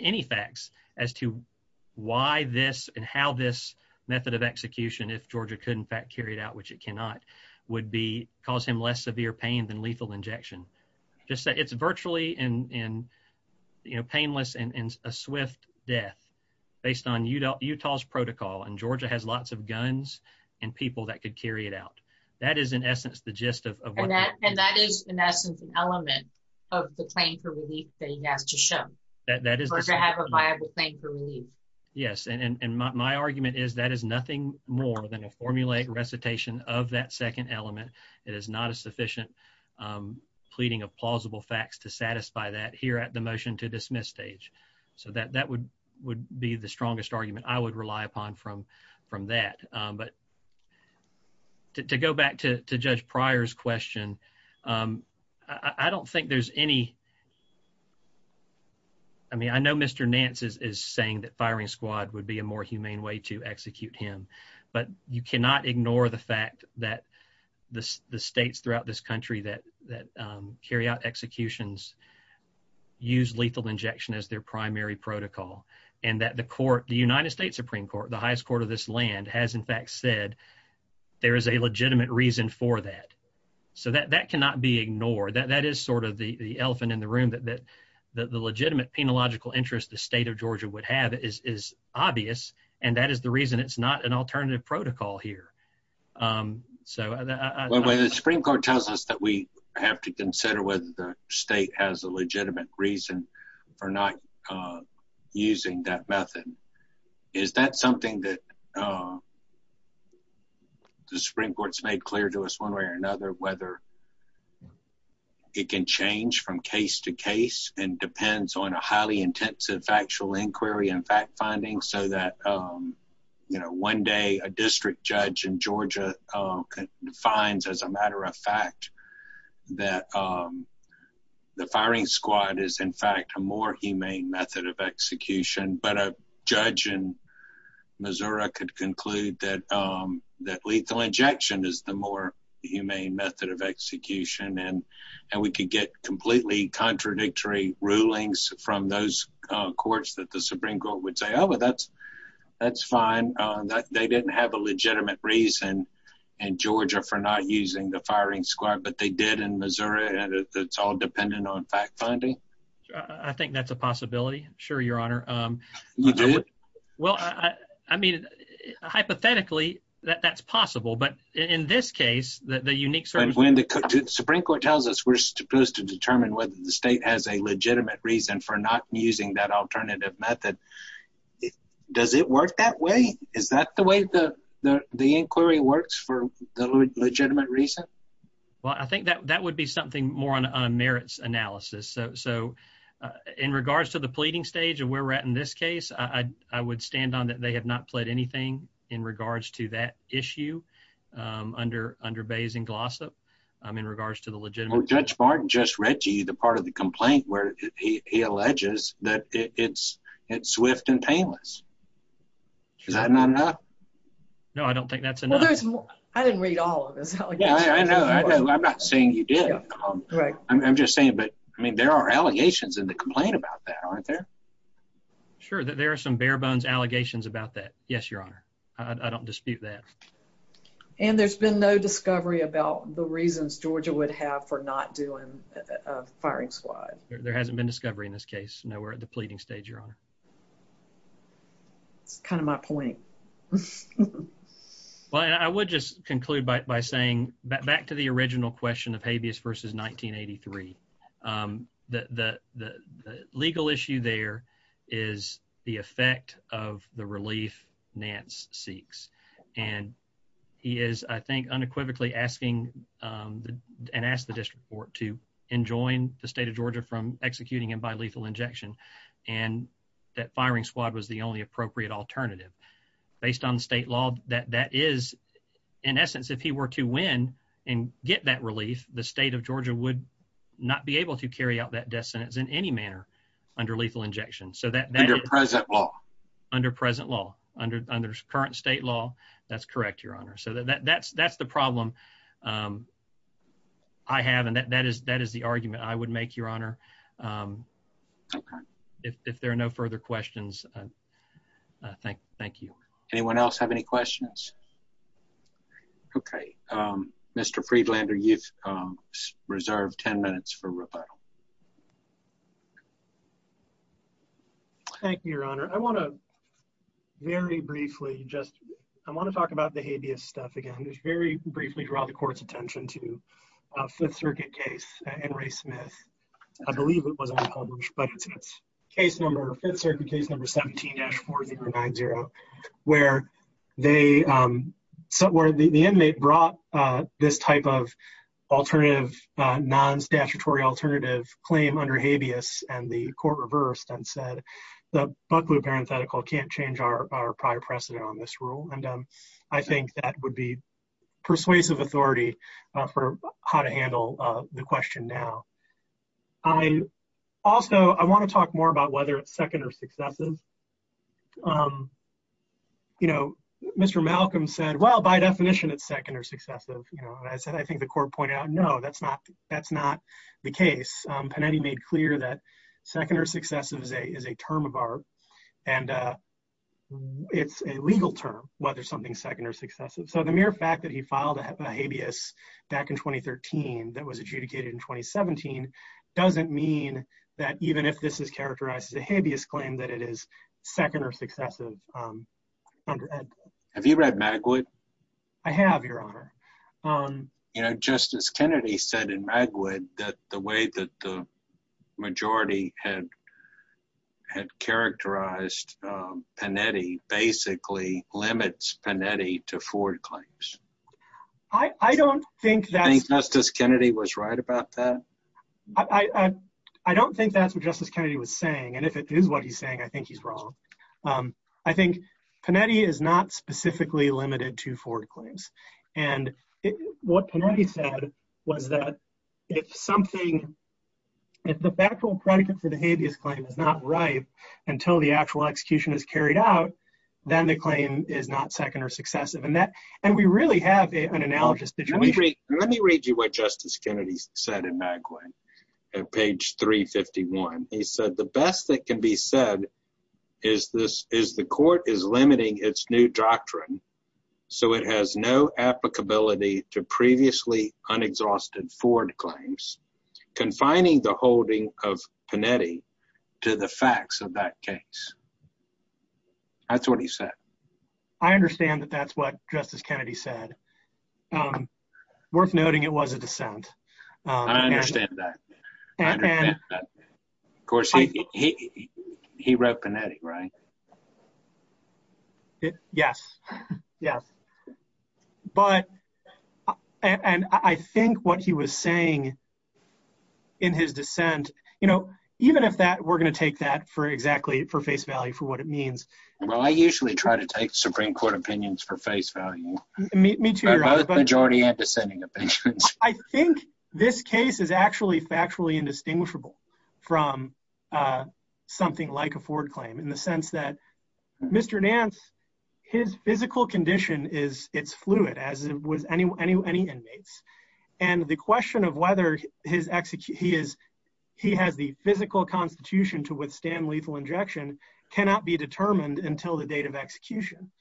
any facts as to why this and how this method of execution, if Georgia could in fact carry it out, which it cannot, would cause him less severe pain than lethal injection. Just say it's virtually painless and a swift death based on Utah's protocol. And Georgia has lots of guns and people that could carry it out. That is, in essence, the gist of what... And that is, in essence, an element of the claim for relief that he has to show. That is... Or to have a viable claim for relief. Yes. And my argument is that is nothing more than a formulaic recitation of that second element. It is not a sufficient pleading of plausible facts to satisfy that here at the motion to dismiss stage. So that would be the strongest argument I would rely upon from that. But to go back to Judge Pryor's question, I don't think there's any... I mean, I know Mr. Nance is saying that firing squad would be a more humane way to execute him, but you cannot ignore the fact that the states throughout this country that carry out executions use lethal injection as their primary protocol and that the court, the United States Supreme Court, the highest court of this land has, in fact, said there is a legitimate reason for that. So that cannot be ignored. That is sort of the elephant in the room that the legitimate penological interest the state of Georgia would have is obvious. And that is the reason it's not an alternative protocol here. Well, the Supreme Court tells us that we have to consider whether the state has a legitimate reason for not using that method. Is that something that the Supreme Court's made clear to us one way or another, whether it can change from case to case and depends on a highly intensive factual inquiry and fact finding so that, you know, one day a district judge in Georgia defines as a matter of fact that the firing squad is, in fact, a more humane method of execution, but a judge in Missouri could conclude that lethal injection is the more humane method of execution. And we could get completely contradictory rulings from those courts that the Supreme Court would say, oh, well, that's fine. They didn't have a legitimate reason in Georgia for not using the firing squad, but they did in Missouri. And it's all dependent on fact finding. I think that's a possibility. Sure, Your Honor. Well, I mean, hypothetically, that's possible. But in this case, the unique... And when the Supreme Court tells us we're supposed to determine whether the state has a legitimate reason for not using that alternative method, does it work that way? Is that the way the inquiry works for the legitimate reason? Well, I think that would be something more on merits analysis. So in regards to the pleading stage of where we're at in this case, I would stand on that they have not pled anything in regards to that issue under Bayes and Glossop in regards to the legitimate... Well, Judge Barton just read to you the part of the complaint where he alleges that it's swift and painless. Is that not enough? No, I don't think that's enough. Well, there's more. I didn't read all of it. I know, I know. I'm not saying you did. I'm just saying, but I mean, there are allegations in the complaint about that, aren't there? Sure, there are some bare bones allegations about that. Yes, Your Honor. I don't dispute that. And there's been no discovery about the reasons Georgia would have for not doing a firing squad. There hasn't been discovery in this case. No, we're at the pleading stage, Your Honor. It's kind of my point. Well, I would just conclude by saying back to the original question of habeas versus 1983, the legal issue there is the effect of the relief Nance seeks. And he is, I think, unequivocally asking and asked the district court to enjoin the state of Georgia from executing him by lethal injection. And that firing squad was the only appropriate alternative. Based on state law, that is, in essence, if he were to win and get that relief, the state of Georgia would not be able to carry out that death sentence in any manner under lethal injection. So that— Under present law. Under present law, under current state law. That's correct, Your Honor. So that's the problem I have. And that is the argument I would make, Your Honor. Okay. If there are no further questions, thank you. Anyone else have any questions? Okay. Mr. Friedlander, you've reserved 10 minutes for rebuttal. Thank you, Your Honor. I want to very briefly just—I want to talk about the habeas stuff again. Just very briefly draw the court's attention to the Fifth Circuit case and Ray Smith. I believe it was unpublished, but it's case number—Fifth Circuit case number 17-4390, where they—where the inmate brought this type of alternative—non-statutory alternative claim under habeas and the court reversed and said the Buckley parenthetical can't change our prior precedent on this rule. And I think that would be persuasive authority for how to handle the question now. I also—I want to talk more about whether it's second or successive. You know, Mr. Malcolm said, well, by definition, it's second or successive. You know, I said, I think the court pointed out, no, that's not—that's not the case. Panetti made clear that second or successive is a term of art, and it's a legal term, whether something's second or successive. So the mere fact that he filed a habeas back in 2013 that was adjudicated in 2017 doesn't mean that even if this is characterized as a habeas claim, that it is second or successive. Have you read Magwood? I have, Your Honor. You know, Justice Kennedy said in Magwood that the way that the majority had characterized Panetti basically limits Panetti to forward claims. I don't think that— Do you think Justice Kennedy was right about that? I don't think that's what Justice Kennedy was saying. And if it is what he's saying, I think he's wrong. I think Panetti is not specifically limited to forward claims. And what Panetti said was that if something—if the factual predicate for the habeas claim is not right until the actual execution is carried out, then the claim is not second or successive. And we really have an analogous situation. Let me read you what Justice Kennedy said in Magwood, at page 351. He said, the best that can be said is the court is limiting its new doctrine, so it has no applicability to previously unexhausted forward claims, confining the facts of that case. That's what he said. I understand that that's what Justice Kennedy said. Worth noting, it was a dissent. I understand that. Of course, he wrote Panetti, right? Yes. Yes. But—and I think what he was saying in his dissent—you know, even if that—we're going to take that for exactly—for face value, for what it means. Well, I usually try to take Supreme Court opinions for face value. Me too, Your Honor. Both majority and dissenting opinions. I think this case is actually factually indistinguishable from something like a forward claim in the sense that Mr. Nance, his physical condition is—it's fluid, as was any inmates. And the question of whether his—he has the physical constitution to withstand lethal injection cannot be determined until the date of execution.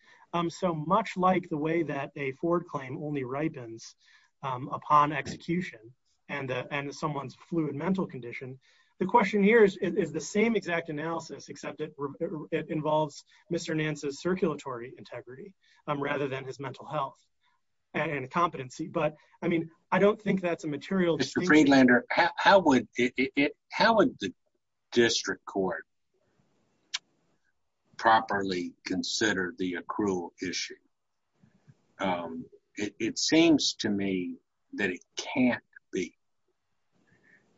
So much like the way that a forward claim only ripens upon execution and someone's fluid mental condition, the question here is the same exact analysis, except it involves Mr. Nance's circulatory integrity rather than his mental health and competency. But, I mean, I don't think that's a material— Mr. Friedlander, how would the district court properly consider the accrual issue? It seems to me that it can't be,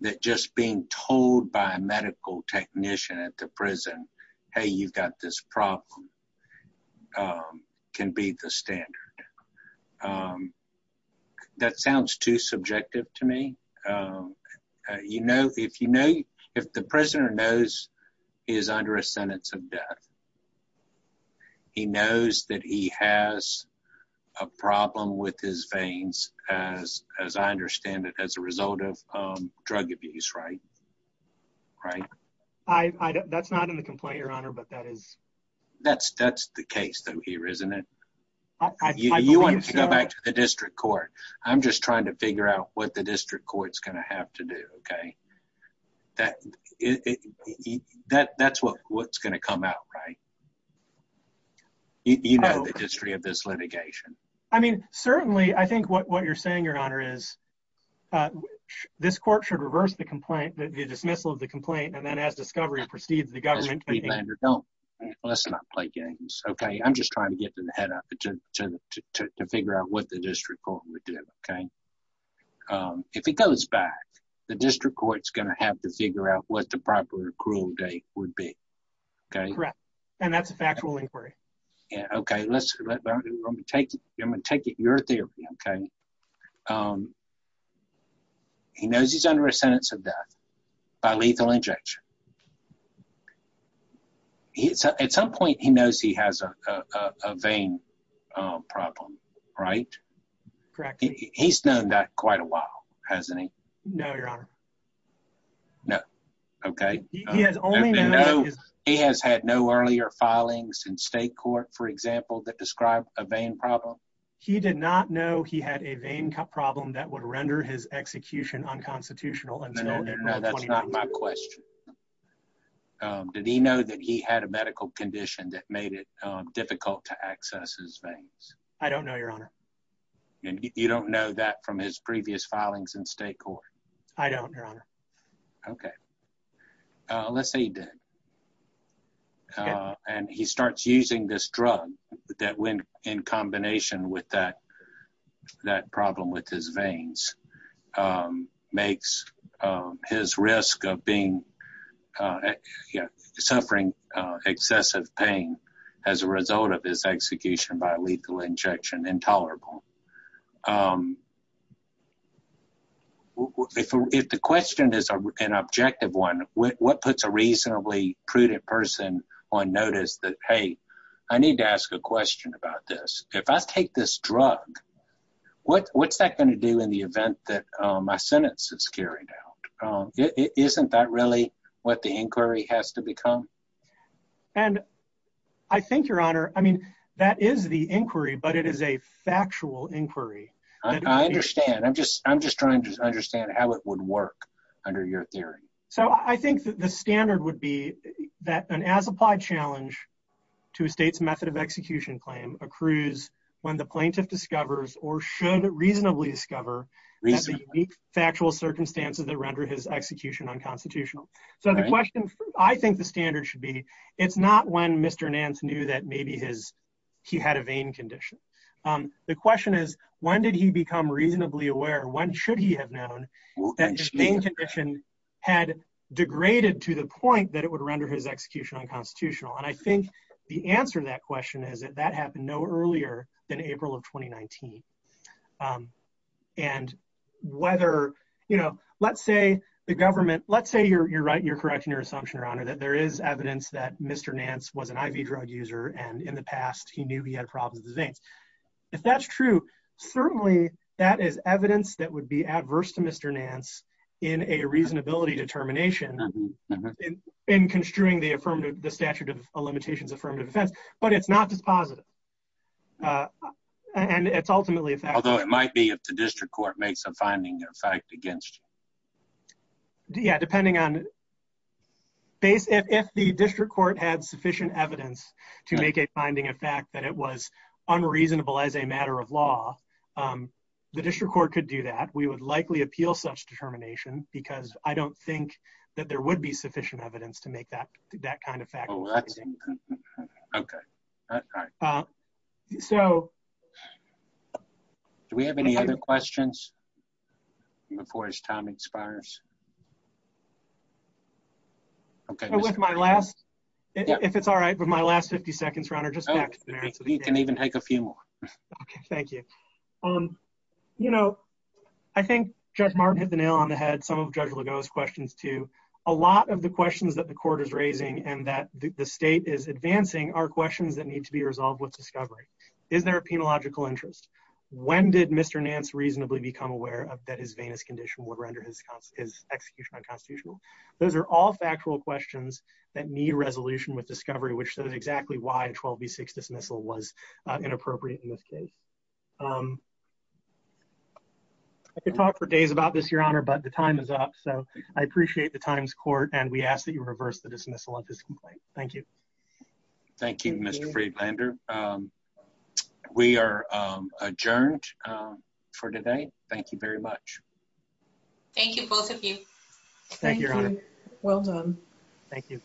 that just being told by a medical technician at the prison, hey, you've got this problem, can be the standard. That sounds too subjective to me. You know, if you know—if the prisoner knows he is under a sentence of death, he knows that he has a problem with his veins, as I understand it, as a result of drug abuse, right? Right? That's not in the complaint, Your Honor, but that is— That's the case, though, here, isn't it? You want it to go back to the district court. I'm just trying to figure out what the district court's going to have to do, okay? That's what's going to come out, right? You know the history of this litigation. I mean, certainly, I think what you're saying, Your Honor, is this court should reverse the complaint, the dismissal of the complaint, and then as discovery proceeds, the government— Mr. Friedlander, don't—let's not play games, okay? I'm just trying to get to the head of it to figure out what the district court would do, okay? If it goes back, the district court's going to have to figure out what the proper accrual date would be, okay? Correct. And that's a factual inquiry. Yeah, okay. Let's—I'm going to take it—I'm going to take it your theory, okay? He knows he's under a sentence of death by lethal injection. He—at some point, he knows he has a vein problem, right? Correct. He's known that quite a while, hasn't he? No, Your Honor. No, okay. He has only known— He has had no earlier filings in state court, for example, that describe a vein problem? He did not know he had a vein problem that would render his execution unconstitutional until— No, that's not my question. Did he know that he had a medical condition that made it difficult to access his veins? I don't know, Your Honor. And you don't know that from his previous filings in state court? I don't, Your Honor. Okay. Let's say he did. And he starts using this drug that, when in combination with that problem with his veins, makes his risk of being—suffering excessive pain as a result of his execution by lethal injection intolerable. If the question is an objective one, what puts a reasonably prudent person on notice that, hey, I need to ask a question about this? If I take this drug, what's that going to do in the event that my sentence is carried out? Isn't that really what the inquiry has to become? And I think, Your Honor—I mean, that is the inquiry, but it is a factual inquiry. I understand. I'm just trying to understand how it would work under your theory. So I think that the standard would be that an as-applied challenge to a state's method of execution claim accrues when the plaintiff discovers, or should reasonably discover, that the unique factual circumstances that render his execution unconstitutional. So the question—I think the standard should be, it's not when Mr. Nance knew that maybe he had a vein condition. The question is, when did he become reasonably aware? When should he have known that his vein condition had degraded to the point that it would render his execution unconstitutional? And I think the answer to that question is that that happened no earlier than April of 2019. And whether—you know, let's say the government—let's say you're right, you're correct in your assumption, Your Honor, that there is evidence that Mr. Nance was an IV drug user, and in the past he knew he had problems with his veins. If that's true, certainly that is evidence that would be adverse to Mr. Nance in a reasonability determination in construing the affirmative—the statute of limitations affirmative defense. But it's not dispositive. And it's ultimately a fact— Although it might be if the district court makes a finding of fact against you. Yeah, depending on—if the district court had sufficient evidence to make a finding of fact that it was unreasonable as a matter of law, the district court could do that. We would likely appeal such determination because I don't think that there would be sufficient evidence to make that kind of fact. Oh, that's—okay, all right. So— Do we have any other questions before his time expires? Okay. With my last—if it's all right—with my last 50 seconds, Your Honor, just back to the merits. You can even take a few more. Okay, thank you. Um, you know, I think Judge Martin hit the nail on the head. Some of Judge Legault's questions, too. A lot of the questions that the court is raising and that the state is advancing are questions that need to be resolved with discovery. Is there a penological interest? When did Mr. Nance reasonably become aware that his venous condition would render his execution unconstitutional? Those are all factual questions that need resolution with discovery, which says exactly why a 12 v. 6 dismissal was inappropriate in this case. Um, I could talk for days about this, Your Honor, but the time is up. So I appreciate the time's court, and we ask that you reverse the dismissal of this complaint. Thank you. Thank you, Mr. Friedlander. We are adjourned for today. Thank you very much. Thank you, both of you. Thank you, Your Honor. Well done. Thank you.